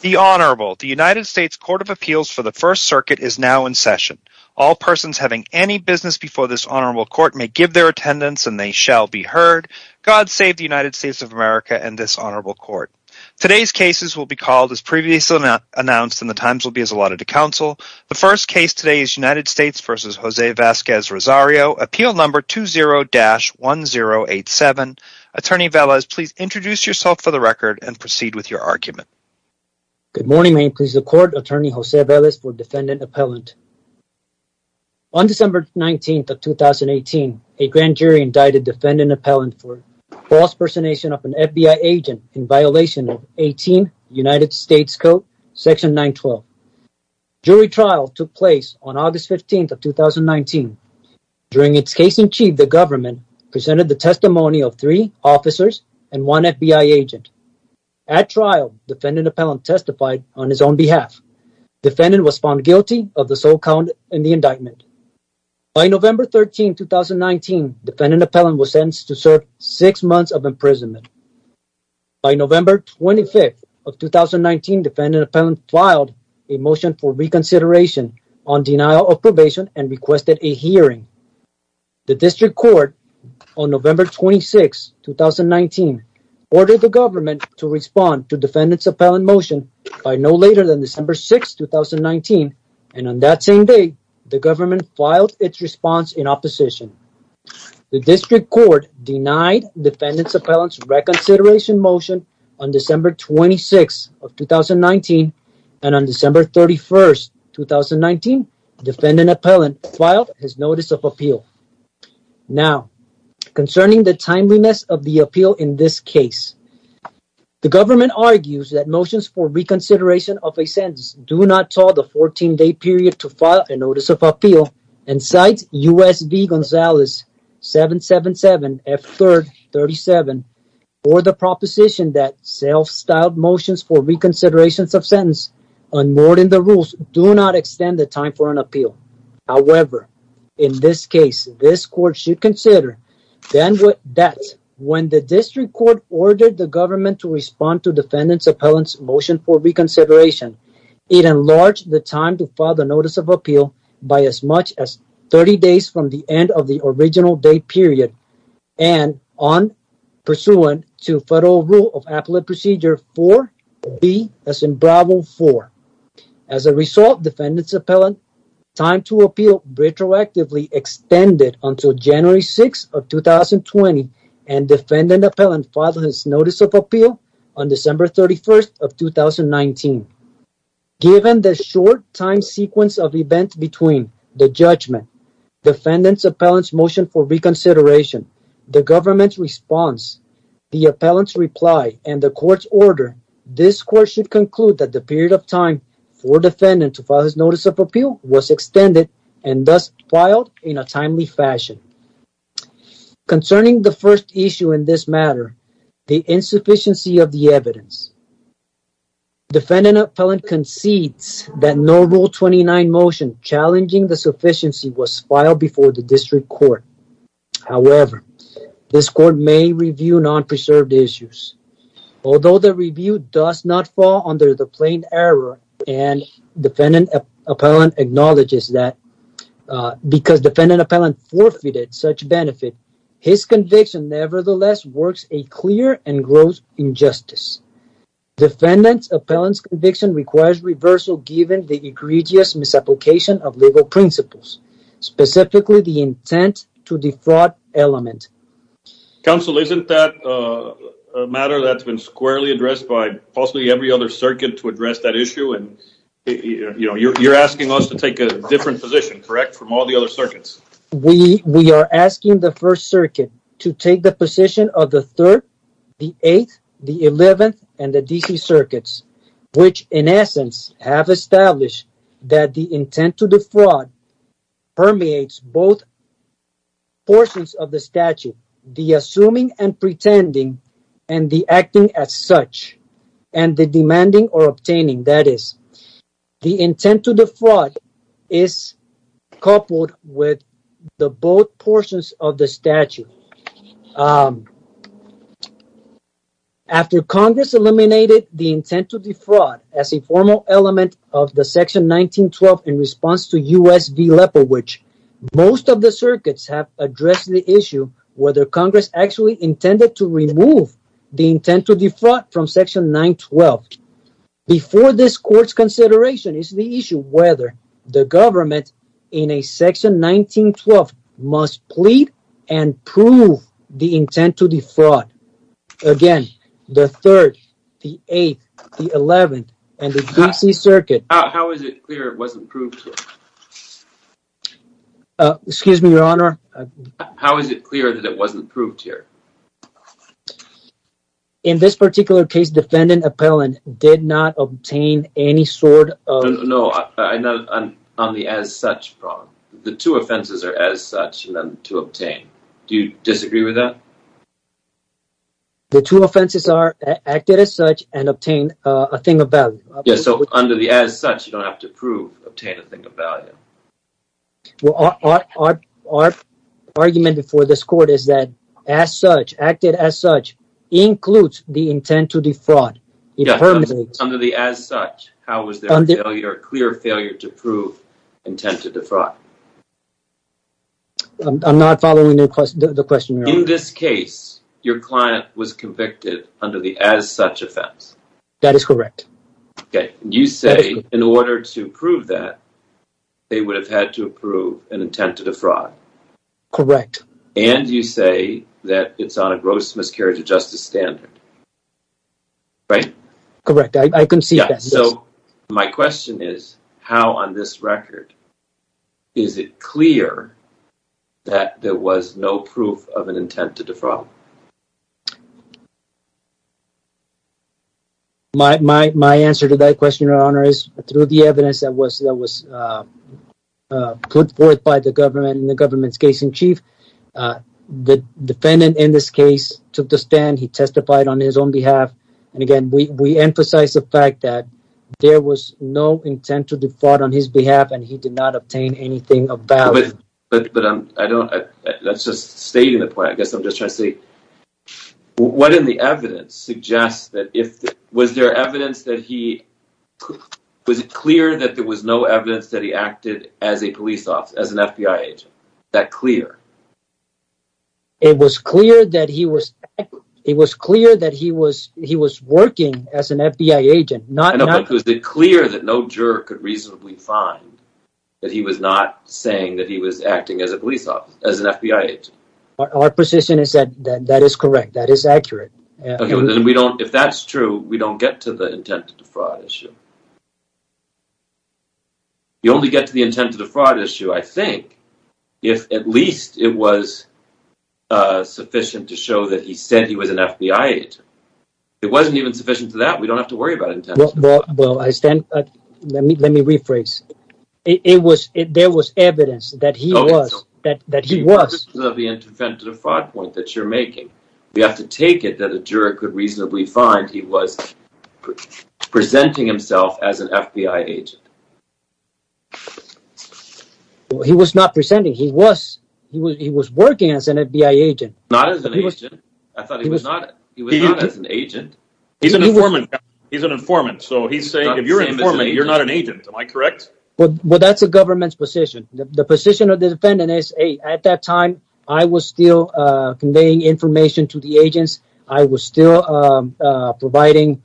The Honorable, the United States Court of Appeals for the First Circuit is now in session. All persons having any business before this Honorable Court may give their attendance, and they shall be heard. God save the United States of America and this Honorable Court. Today's cases will be called as previously announced, and the times will be as allotted to counsel. The first case today is United States v. José Vazquez-Rosario, Appeal Number 20-1087. Attorney Velez, please introduce yourself for the record and proceed with your argument. Good morning. May it please the Court, Attorney José Velez for Defendant Appellant. On December 19th of 2018, a grand jury indicted Defendant Appellant for false impersonation of an FBI agent in violation of 18 United States Code, Section 912. Jury trial took place on August 15th of 2019. During its case in chief, the government presented the testimony of three officers and one FBI agent. At trial, Defendant Appellant testified on his own behalf. Defendant was found guilty of the sole count in the indictment. By November 13, 2019, Defendant Appellant was sentenced to serve six months of imprisonment. By November 25th of 2019, Defendant Appellant filed a motion for November 26, 2019, ordered the government to respond to Defendant's Appellant motion by no later than December 6, 2019, and on that same day, the government filed its response in opposition. The District Court denied Defendant Appellant's reconsideration motion on December 26th of 2019, and on December 31st, 2019, Defendant Appellant filed his notice of now. Concerning the timeliness of the appeal in this case, the government argues that motions for reconsideration of a sentence do not tell the 14-day period to file a notice of appeal, and cites U.S. v. Gonzales 777 F3rd 37 for the proposition that self-styled motions for reconsiderations of sentence unmoored in the rules do not extend the time for an appeal. However, in this case, this Court should consider then that when the District Court ordered the government to respond to Defendant Appellant's motion for reconsideration, it enlarged the time to file the notice of appeal by as much as 30 days from the end of the original date period and on pursuant to Federal Rule of Appellate Procedure 4B, as in Bravo 4. As a result, Defendant Appellant's time to appeal retroactively extended until January 6, 2020, and Defendant Appellant filed his notice of appeal on December 31, 2019. Given the short time sequence of events between the judgment, Defendant Appellant's motion for reconsideration, the government's response, the Appellant's reply, and the Court's order, this Court should conclude that the period of time for Defendant to file his notice of appeal was extended and thus filed in a timely fashion. Concerning the first issue in this matter, the insufficiency of the evidence, Defendant Appellant concedes that no Rule 29 motion challenging the sufficiency was filed before the District Court. However, this Court may review non-preserved issues. Although the Appellant acknowledges that because Defendant Appellant forfeited such benefit, his conviction nevertheless works a clear and gross injustice. Defendant Appellant's conviction requires reversal given the egregious misapplication of legal principles, specifically the intent to defraud element. Counsel, isn't that a matter that's been squarely addressed by every other circuit to address that issue? You're asking us to take a different position, correct, from all the other circuits? We are asking the First Circuit to take the position of the 3rd, the 8th, the 11th, and the DC circuits, which in essence have established that the intent to defraud permeates both portions of the statute, the assuming and pretending, and the acting as such, and the demanding or obtaining, that is, the intent to defraud is coupled with the both portions of the statute. After Congress eliminated the intent to defraud as a formal element of the Section 1912 in response to U.S. v. Leopold, which most of the circuits have addressed the issue, whether Congress actually intended to remove the intent to defraud from Section 912. Before this Court's consideration is the issue whether the government in a Section 1912 must plead and prove the intent to defraud. Again, the 3rd, the 8th, the 11th, and the DC circuit. How is it clear it wasn't proved? Uh, excuse me, Your Honor. How is it clear that it wasn't proved here? In this particular case, Defendant Appellant did not obtain any sort of... No, no, on the as such problem. The two offenses are as such and then to obtain. Do you disagree with that? The two offenses are acted as such and obtain a thing of value. Yeah, so under the as such, you don't have to prove obtain a thing of value. Well, our argument before this Court is that as such, acted as such, includes the intent to defraud. Yeah, under the as such, how was there a clear failure to prove intent to defraud? I'm not following the question, Your Honor. In this case, your client was convicted under the as such offense. That is correct. Okay, you say in order to prove that, they would have had to prove an intent to defraud. Correct. And you say that it's on a gross miscarriage of justice standard, right? Correct, I can see that. So, my question is, how on this record is it clear that there was no proof of an intent to defraud? My answer to that question, Your Honor, is through the evidence that was put forth by the government in the government's case in chief. The defendant in this case took the stand. He testified on his own behalf. And again, we emphasize the fact that there was no intent to defraud on his behalf and he did not obtain anything of value. But I don't, let's just stay in the point. I guess I'm just trying to say, what in the evidence suggests that if, was there evidence that he, was it clear that there was no evidence that he acted as a police officer, as an FBI agent? That clear? It was clear that he was, it was clear that he was, he was working as an FBI agent, not. Was it clear that no juror could reasonably find that he was not saying that he was acting as a police officer, as an FBI agent? Our position is that that is correct. That is accurate. Okay, well then we don't, if that's true, we don't get to the intent to defraud issue. You only get to the intent to defraud issue, I think, if at least it was sufficient to show that he said he was an FBI agent. If it wasn't even sufficient to that, we don't have to worry about it. Well, I stand, let me, let me rephrase. It was, there was evidence that he was, that, that he was. The intent to defraud point that you're making, we have to take it that a juror could reasonably find he was presenting himself as an FBI agent. He was not presenting, he was, he was, he was working as an FBI agent. Not as an agent, I thought he was not, he was not as an informant. So he's saying if you're an informant, you're not an agent. Am I correct? Well, that's the government's position. The position of the defendant is, hey, at that time, I was still conveying information to the agents. I was still providing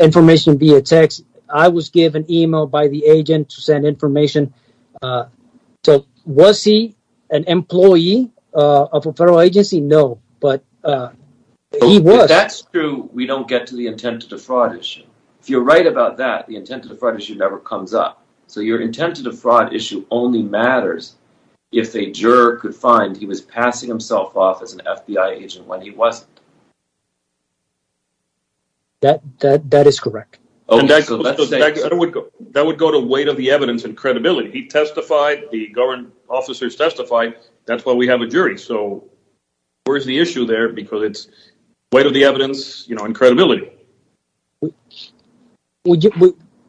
information via text. I was given email by the agent to send information. So was he an employee of a federal agency? No, but he was. That's true. We don't get to the intent to defraud issue. If you're right about that, the intent to defraud issue never comes up. So your intent to defraud issue only matters if a juror could find he was passing himself off as an FBI agent when he wasn't. That, that, that is correct. That would go to weight of the evidence and credibility. He testified, the government officers testified, that's why we have a jury. So where's the issue there? Because it's evidence and credibility.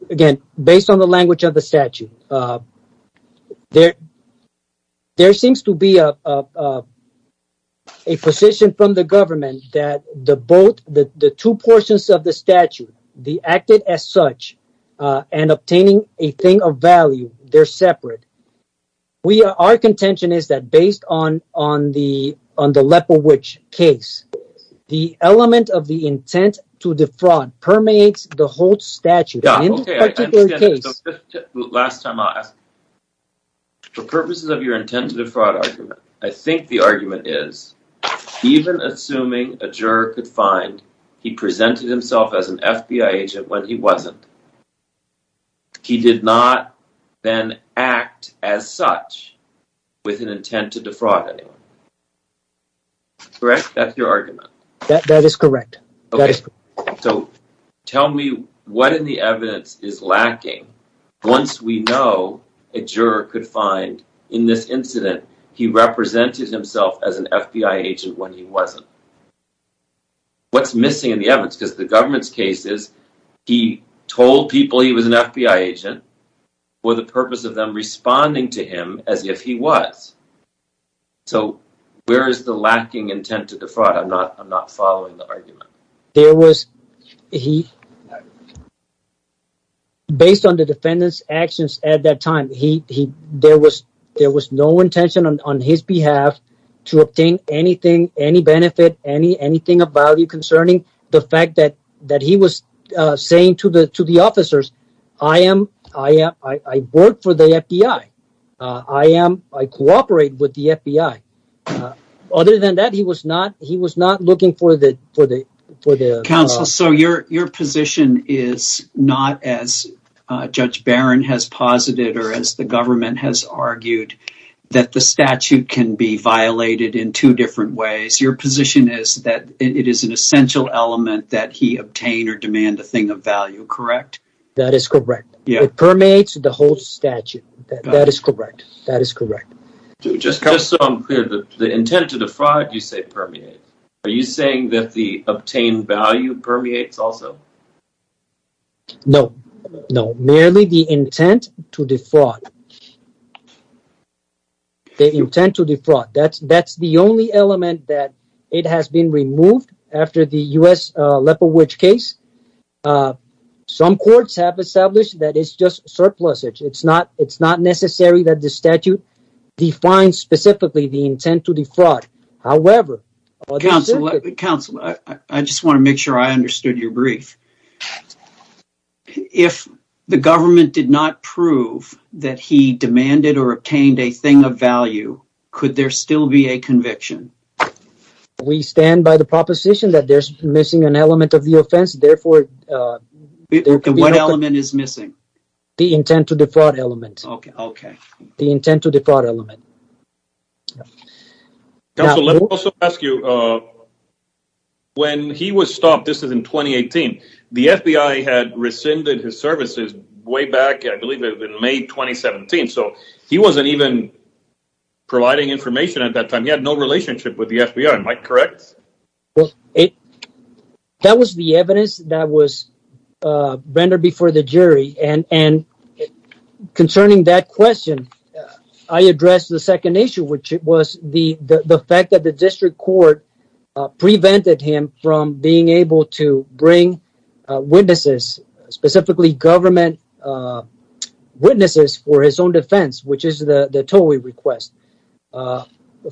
Again, based on the language of the statute, there seems to be a position from the government that the two portions of the statute, the acted as such, and obtaining a thing of value, they're separate. Our contention is that based on the Leopold Witch case, the element of the intent to defraud permeates the whole statute. Last time I'll ask, for purposes of your intent to defraud argument, I think the argument is, even assuming a juror could find he presented himself as an FBI agent when he wasn't, he did not then act as such with an intent to defraud anyone. Correct? That's your argument? That is correct. Okay, so tell me what in the evidence is lacking once we know a juror could find in this incident he represented himself as an FBI agent when he told people he was an FBI agent for the purpose of them responding to him as if he was. So where is the lacking intent to defraud? I'm not following the argument. There was, he, based on the defendant's actions at that time, there was no intention on his behalf to obtain anything, any benefit, anything of value concerning the fact that he was saying to the officers, I am, I am, I work for the FBI. I am, I cooperate with the FBI. Other than that, he was not, he was not looking for the, for the, for the. Counsel, so your, your position is not as Judge Barron has posited or as the government has argued that the statute can be violated in two different ways. Your position is that it is an essential element that he obtain or demand a thing of value, correct? That is correct. It permeates the whole statute. That is correct. That is correct. Just so I'm clear, the intent to defraud, you say permeate. Are you saying that the obtained value permeates also? No, no. Merely the intent to defraud. The intent to defraud. That's, that's the only element that it has been removed after the U.S. Leopold Witch case. Some courts have established that it's just surplusage. It's not, it's not necessary that the statute defines specifically the intent to defraud. However, Counsel, I just want to make sure I understood your brief. If the government did not prove that he demanded or obtained a thing of value, could there still be a conviction? We stand by the proposition that there's missing an element of the offense. Therefore, what element is missing? The intent to defraud element. Okay. The intent to defraud element. Counsel, let me also ask you, when he was stopped, this is in 2018, the FBI had rescinded his so he wasn't even providing information at that time. He had no relationship with the FBI. Am I correct? Well, that was the evidence that was rendered before the jury. And concerning that question, I addressed the second issue, which was the fact that the district court prevented him from being able to bring witnesses, specifically government witnesses for his own defense, which is the TOWI request.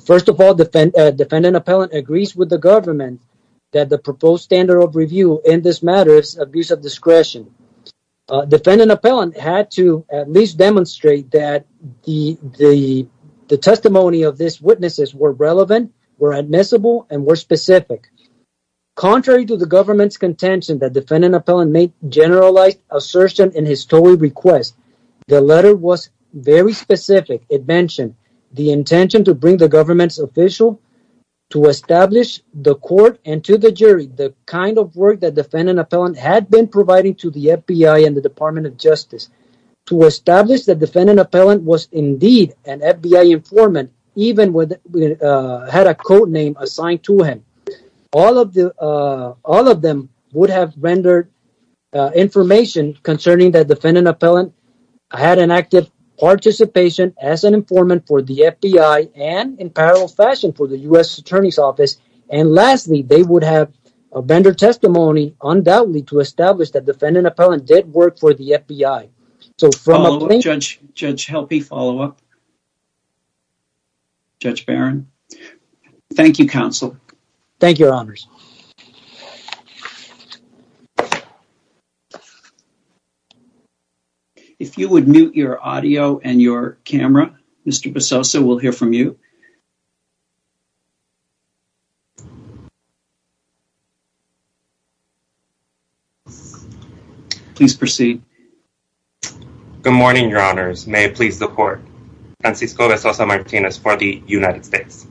First of all, defendant, defendant appellant agrees with the government that the proposed standard of review in this matter is abuse of discretion. Defendant appellant had to at least demonstrate that the testimony of this witnesses were relevant, were admissible, and were specific. Contrary to the government's assertion in his TOWI request, the letter was very specific. It mentioned the intention to bring the government's official to establish the court and to the jury the kind of work that defendant appellant had been providing to the FBI and the Department of Justice to establish that defendant appellant was indeed an FBI informant, even with, had a code name assigned to him. All of the, all of them would have rendered information concerning that defendant appellant had an active participation as an informant for the FBI and in parallel fashion for the U.S. Attorney's Office. And lastly, they would have a vendor testimony undoubtedly to establish that defendant appellant did work for the FBI. So from Judge, Judge Helpe, follow up. Judge Barron, thank you, counsel. Thank you, your honors. If you would mute your audio and your camera, Mr. Basosa, we'll hear from you. Please proceed. Good morning, your honors. May it please the court. Francisco Basosa Martinez for the United States.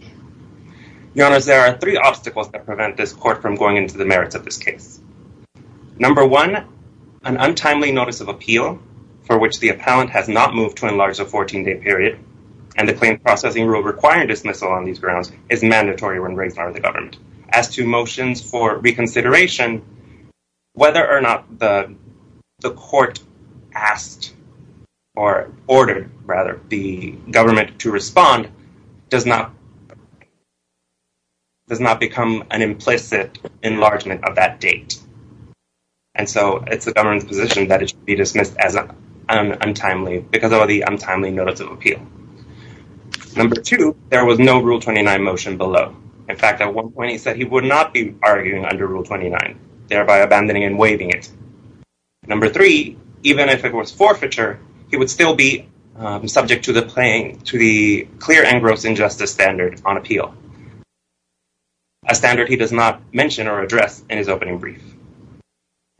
Your honors, there are three obstacles that prevent this court from going into the merits of this case. Number one, an untimely notice of appeal for which the appellant has not moved to enlarge the 14 day period and the claim processing rule requiring dismissal on these of the government. As to motions for reconsideration, whether or not the court asked or ordered, rather, the government to respond does not, does not become an implicit enlargement of that date. And so it's the government's position that it should be dismissed as untimely because of the untimely notice of appeal. Number two, there was no Rule 29 motion below. In fact, at one point he said he would not be arguing under Rule 29, thereby abandoning and waiving it. Number three, even if it was forfeiture, he would still be subject to the plain, to the clear and gross injustice standard on appeal, a standard he does not mention or address in his opening brief.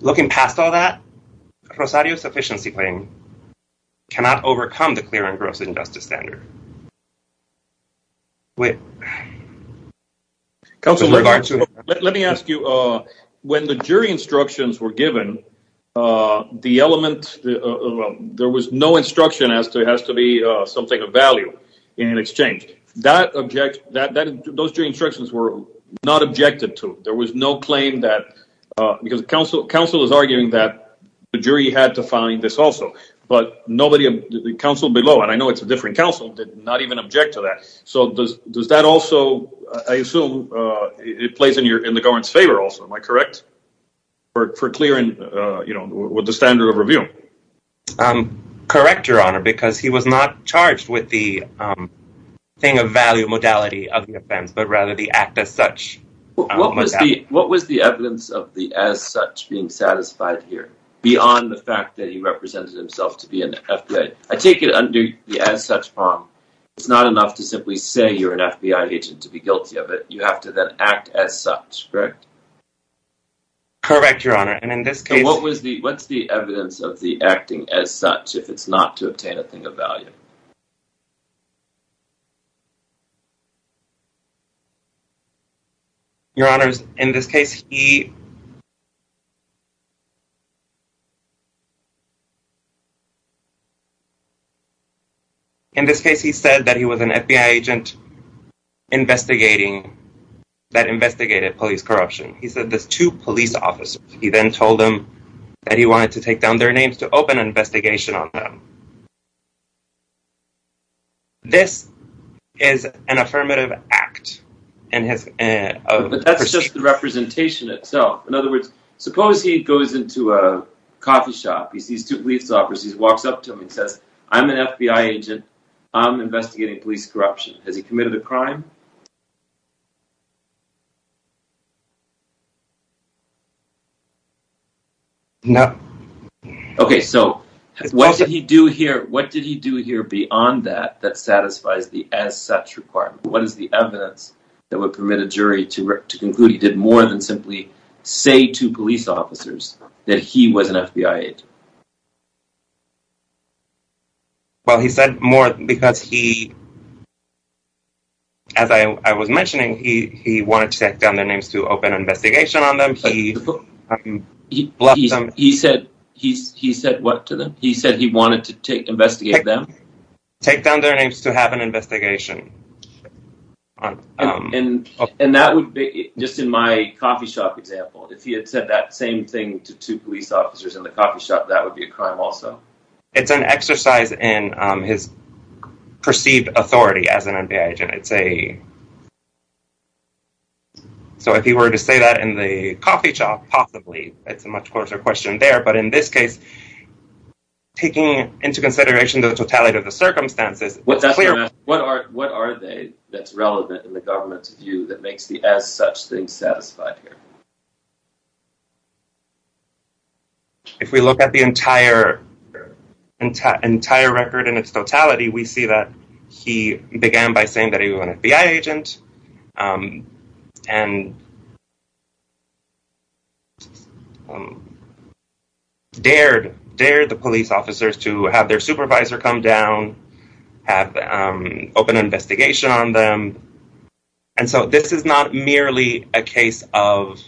Looking past all that, Rosario's sufficiency claim cannot overcome the clear and gross injustice standard. Let me ask you, when the jury instructions were given, the element, there was no instruction as to it has to be something of value in exchange. That object, those jury instructions were not objected to. There was no claim that, because counsel, counsel is arguing that the jury had to find this also, but nobody, the counsel below, and I know it's a different counsel, did not even object to that. So does that also, I assume it plays in the government's favor also, am I correct? For clearing, with the standard of review? Correct, Your Honor, because he was not charged with the thing of value modality of the offense, but rather the act as such. What was the evidence of the as such being satisfied here, beyond the fact that he I take it under the as such form, it's not enough to simply say you're an FBI agent to be guilty of it. You have to then act as such, correct? Correct, Your Honor, and in this case, what was the, what's the evidence of the acting as such if it's not to obtain a thing of value? Your Honors, in this case, he In this case, he said that he was an FBI agent investigating, that investigated police corruption. He said there's two police officers. He then told them that he wanted to take down their names to open an investigation on them. This is an affirmative act in his, but that's just the representation itself. In other words, suppose he goes into a coffee shop, he sees two police officers, walks up to him and says, I'm an FBI agent, I'm investigating police corruption. Has he committed a crime? No. Okay, so what did he do here? What did he do here beyond that, that satisfies the as such requirement? What is the evidence that would permit a jury to conclude he did more than simply say to police officers that he was an FBI agent? Well, he said more because he, as I was mentioning, he wanted to take down their names to open an investigation on them. He said, he said what to them? He said he wanted to investigate them? Take down their names to have an investigation. And, and that would be just in my coffee shop example, if he had said that same thing to two police officers in the coffee shop, that would be a crime also. It's an exercise in his perceived authority as an FBI agent. It's a, so if he were to say that in the coffee shop, possibly it's a much closer question there, but in this case, taking into consideration the totality of the circumstances, what are, what are they that's relevant in the government's view that makes the as such thing satisfied here? If we look at the entire, entire record in its totality, we see that he began by saying that he was an FBI agent and he dared, dared the police officers to have their supervisor come down, have open investigation on them. And so this is not merely a case of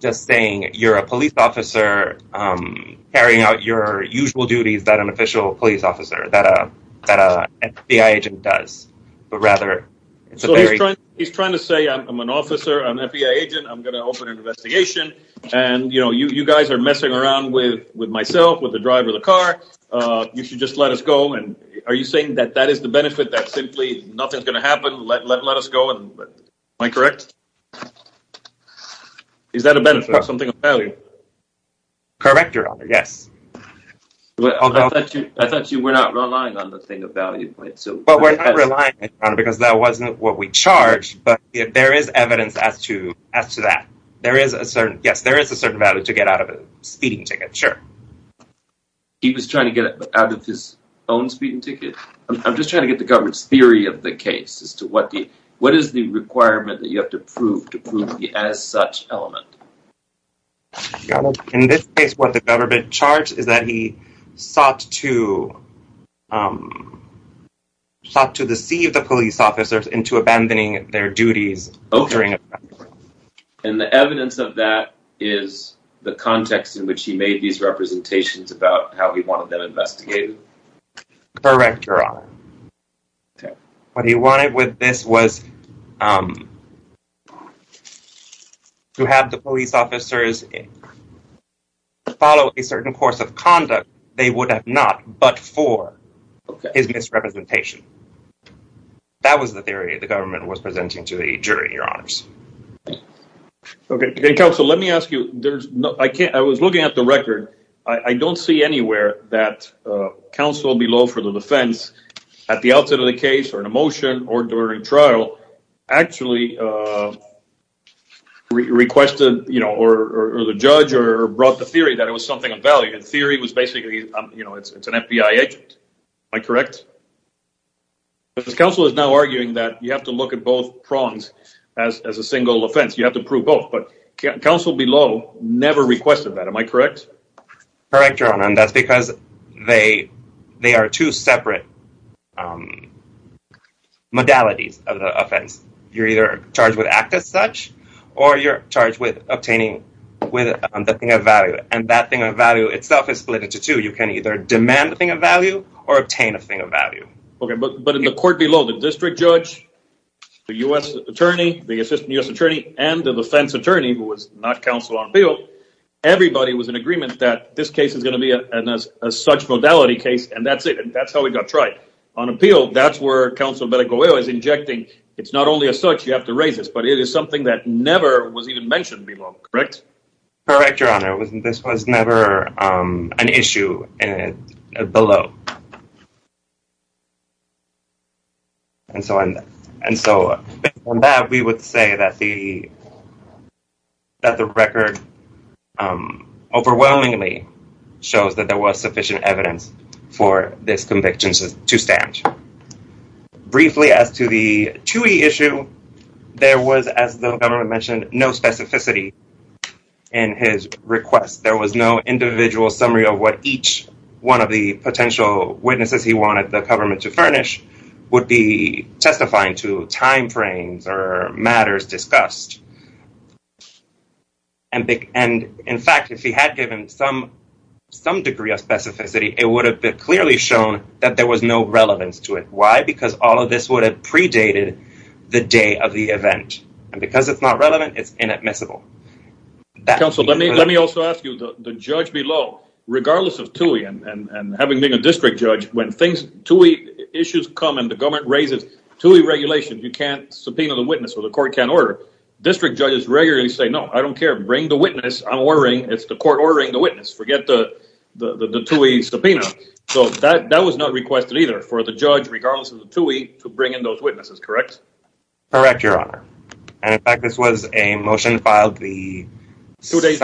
just saying, you're a police officer carrying out your usual duties that an official police officer, that a, that a FBI agent does, but rather it's a very, he's trying to say, I'm an officer, I'm FBI agent, I'm going to open an investigation. And, you know, you, you guys are messing around with, with myself, with the driver of the car, you should just let us go. And are you saying that that is the benefit that simply nothing's going to happen? Let, let, let us go. Am I correct? Is that a benefit or something of value? Correct, your honor. Yes. I thought you were not relying on the thing of value point. But we're not relying on it because that wasn't what we charged, but there is evidence as to, as to that. There is a certain, yes, there is a certain value to get out of a speeding ticket. Sure. He was trying to get out of his own speeding ticket. I'm just trying to get the government's theory of the case as to what the, what is the requirement that you have to prove, to prove the as such element? In this case, what the government charged is that he sought to, um, sought to deceive the police officers into abandoning their duties. And the evidence of that is the context in which he made these representations about how he wanted them investigated. Correct, your honor. What he wanted with this was, um, to have the police officers follow a certain course of conduct they would have not, but for his misrepresentation. That was the theory the government was presenting to the jury, your honors. Okay. Counsel, let me ask you, there's no, I can't, I was looking at the record. I don't see anywhere that, uh, counsel below for the defense at the outset of the case or in a trial actually, uh, requested, you know, or the judge or brought the theory that it was something of value and theory was basically, you know, it's, it's an FBI agent. Am I correct? Because counsel is now arguing that you have to look at both prongs as, as a single offense. You have to prove both, but counsel below never requested that. Am I correct? Correct, your honor. And that's they, they are two separate, um, modalities of the offense. You're either charged with act as such or you're charged with obtaining with the thing of value. And that thing of value itself is split into two. You can either demand the thing of value or obtain a thing of value. Okay. But, but in the court below the district judge, the U S attorney, the assistant U.S attorney and the defense attorney who was not counsel on bill, everybody was in agreement that this case is a such modality case and that's it. And that's how we got tried on appeal. That's where council medical oil is injecting. It's not only a search, you have to raise this, but it is something that never was even mentioned below. Correct? Correct. Your honor. It wasn't, this was never, um, an issue below. And so, and so on that, we would say that the, that the record, um, overwhelmingly shows that there was sufficient evidence for this conviction to stand. Briefly as to the two issue, there was, as the government mentioned, no specificity in his request. There was no individual summary of what each one of the potential witnesses he wanted the government to furnish would be testifying to timeframes or matters discussed. And, and in fact, if he had given some, some degree of specificity, it would have been clearly shown that there was no relevance to it. Why? Because all of this would have predated the day of the event. And because it's not relevant, it's inadmissible. Counsel, let me, let me also ask you the judge below, regardless of Tui and, and, and having being a district judge, when things to eat issues come and the government raises to a regulation, you can't subpoena the witness or the court can order district judges regularly say, no, I don't care. Bring the witness. I'm worrying. It's the court ordering the witness. Forget the, the, the, the Tui subpoena. So that, that was not requested either for the judge, regardless of the Tui to bring in those witnesses. Correct. Correct. Your honor. And in fact, this was a motion filed the two days,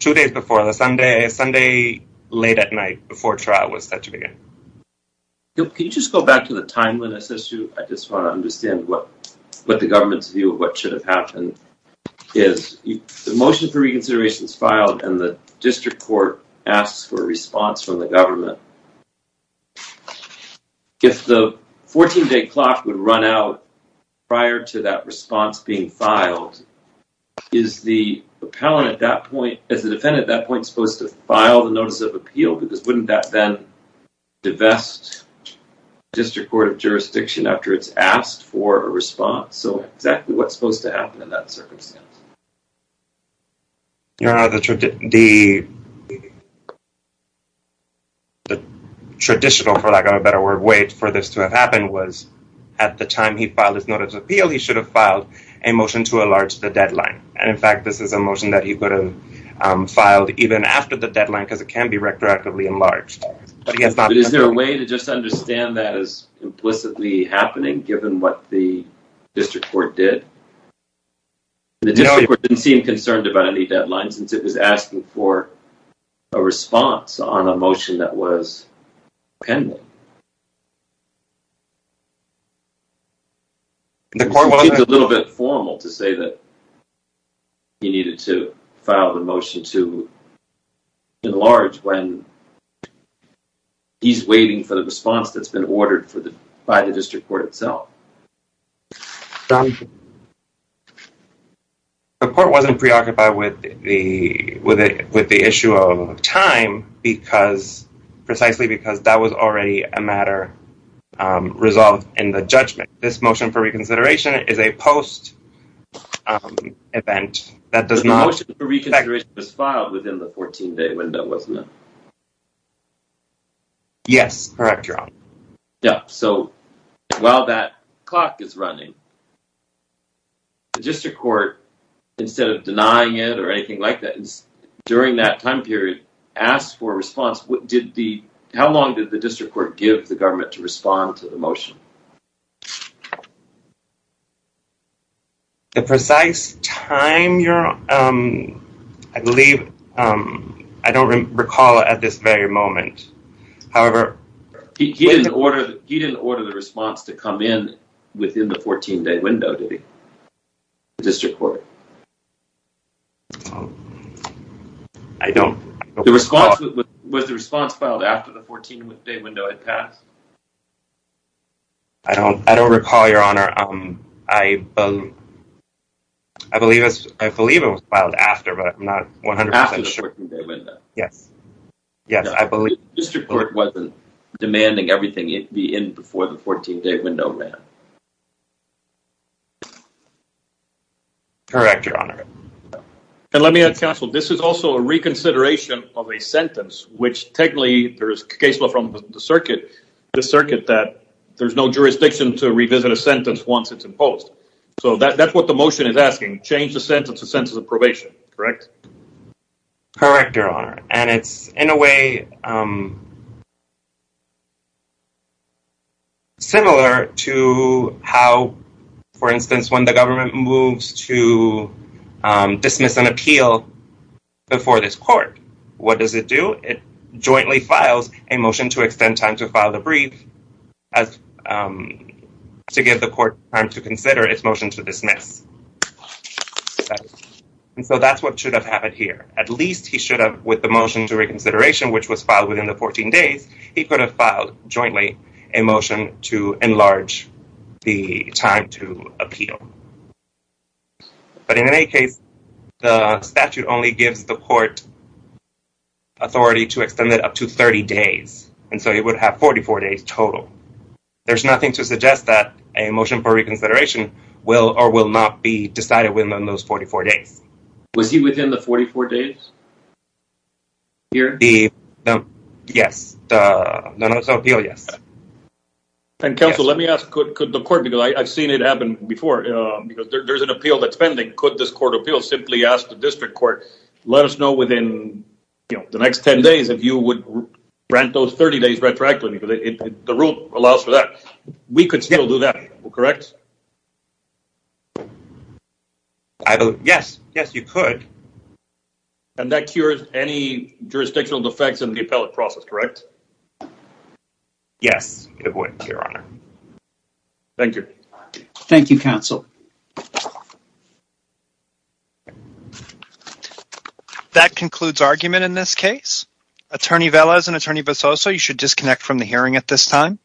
two days before the Sunday, Sunday, late at night before trial was set to begin. Can you just go back to the timeliness issue? I just want to understand what, what the government's view of what should have happened is the motion for reconsideration is filed and the district court asks for a response from the government. If the 14 day clock would run out prior to that response being filed, is the appellant at that point, as a defendant at that point, supposed to file the notice of a response? So exactly what's supposed to happen in that circumstance? Your honor, the traditional, for lack of a better word, way for this to have happened was at the time he filed his notice of appeal, he should have filed a motion to enlarge the deadline. And in fact, this is a motion that he could have filed even after the deadline, because it can be retroactively enlarged. But is there a way to just understand that as happening given what the district court did? The district court didn't seem concerned about any deadline since it was asking for a response on a motion that was pending. The court was a little bit formal to say that he needed to file the motion to enlarge when he's waiting for the response that's been ordered by the district court itself. The court wasn't preoccupied with the issue of time because, precisely because that was already a matter resolved in the judgment. This motion for reconsideration is a post-event. The motion for reconsideration was filed within the 14 day window, wasn't it? Yes, correct, your honor. Yeah, so while that clock is running, the district court, instead of denying it or anything like that, during that time period, asked for a response. How long did the district court give the government to respond to the motion? The precise time, your honor, I believe, I don't recall at this very moment. However... He didn't order the response to come in within the 14 day window, did he? The district court? I don't... The response, was the response filed after the 14 day window had passed? I don't recall, your honor. I believe it was filed after, but I'm not 100% sure. After the 14 day window? Yes. Yes, I believe... The district court wasn't demanding everything be in before the 14 day window ran? Correct, your honor. And let me add, counsel, this is also a reconsideration of a sentence, which technically, there is a case law from the circuit that there's no jurisdiction to revisit a sentence once it's imposed. So that's what the motion is asking. Change the sentence to sentence of probation, correct? Correct, your honor. And it's, in a way, similar to how, for instance, when the government moves to dismiss an appeal before this court, what does it do? It jointly files a motion to extend time to file the brief to give the court time to consider its motion to dismiss. And so that's what should have happened here. At least he should have, with the motion to reconsideration, which was filed within the 14 days, he could have filed jointly a motion to enlarge the time to appeal. But in any case, the statute only gives the court authority to extend it up to 30 days. And so he would have 44 days total. There's nothing to suggest that a motion for reconsideration will or will not be decided within those 44 days. Was he within the 44 days? Here? Yes. No, no, it's an appeal, yes. And counsel, let me ask, could the court, because I've seen it happen before, there's an appeal that's pending. Could this court of appeals simply ask the district court, let us know within the next 10 days if you would rent those 30 days retroactively, because the rule allows for that. We could still do that, correct? Yes, yes, you could. And that cures any jurisdictional defects in the appellate process, correct? Yes, it would, Your Honor. Thank you. Thank you, counsel. That concludes argument in this case. Attorney Velez and Attorney Basoso, you should disconnect from the hearing at this time.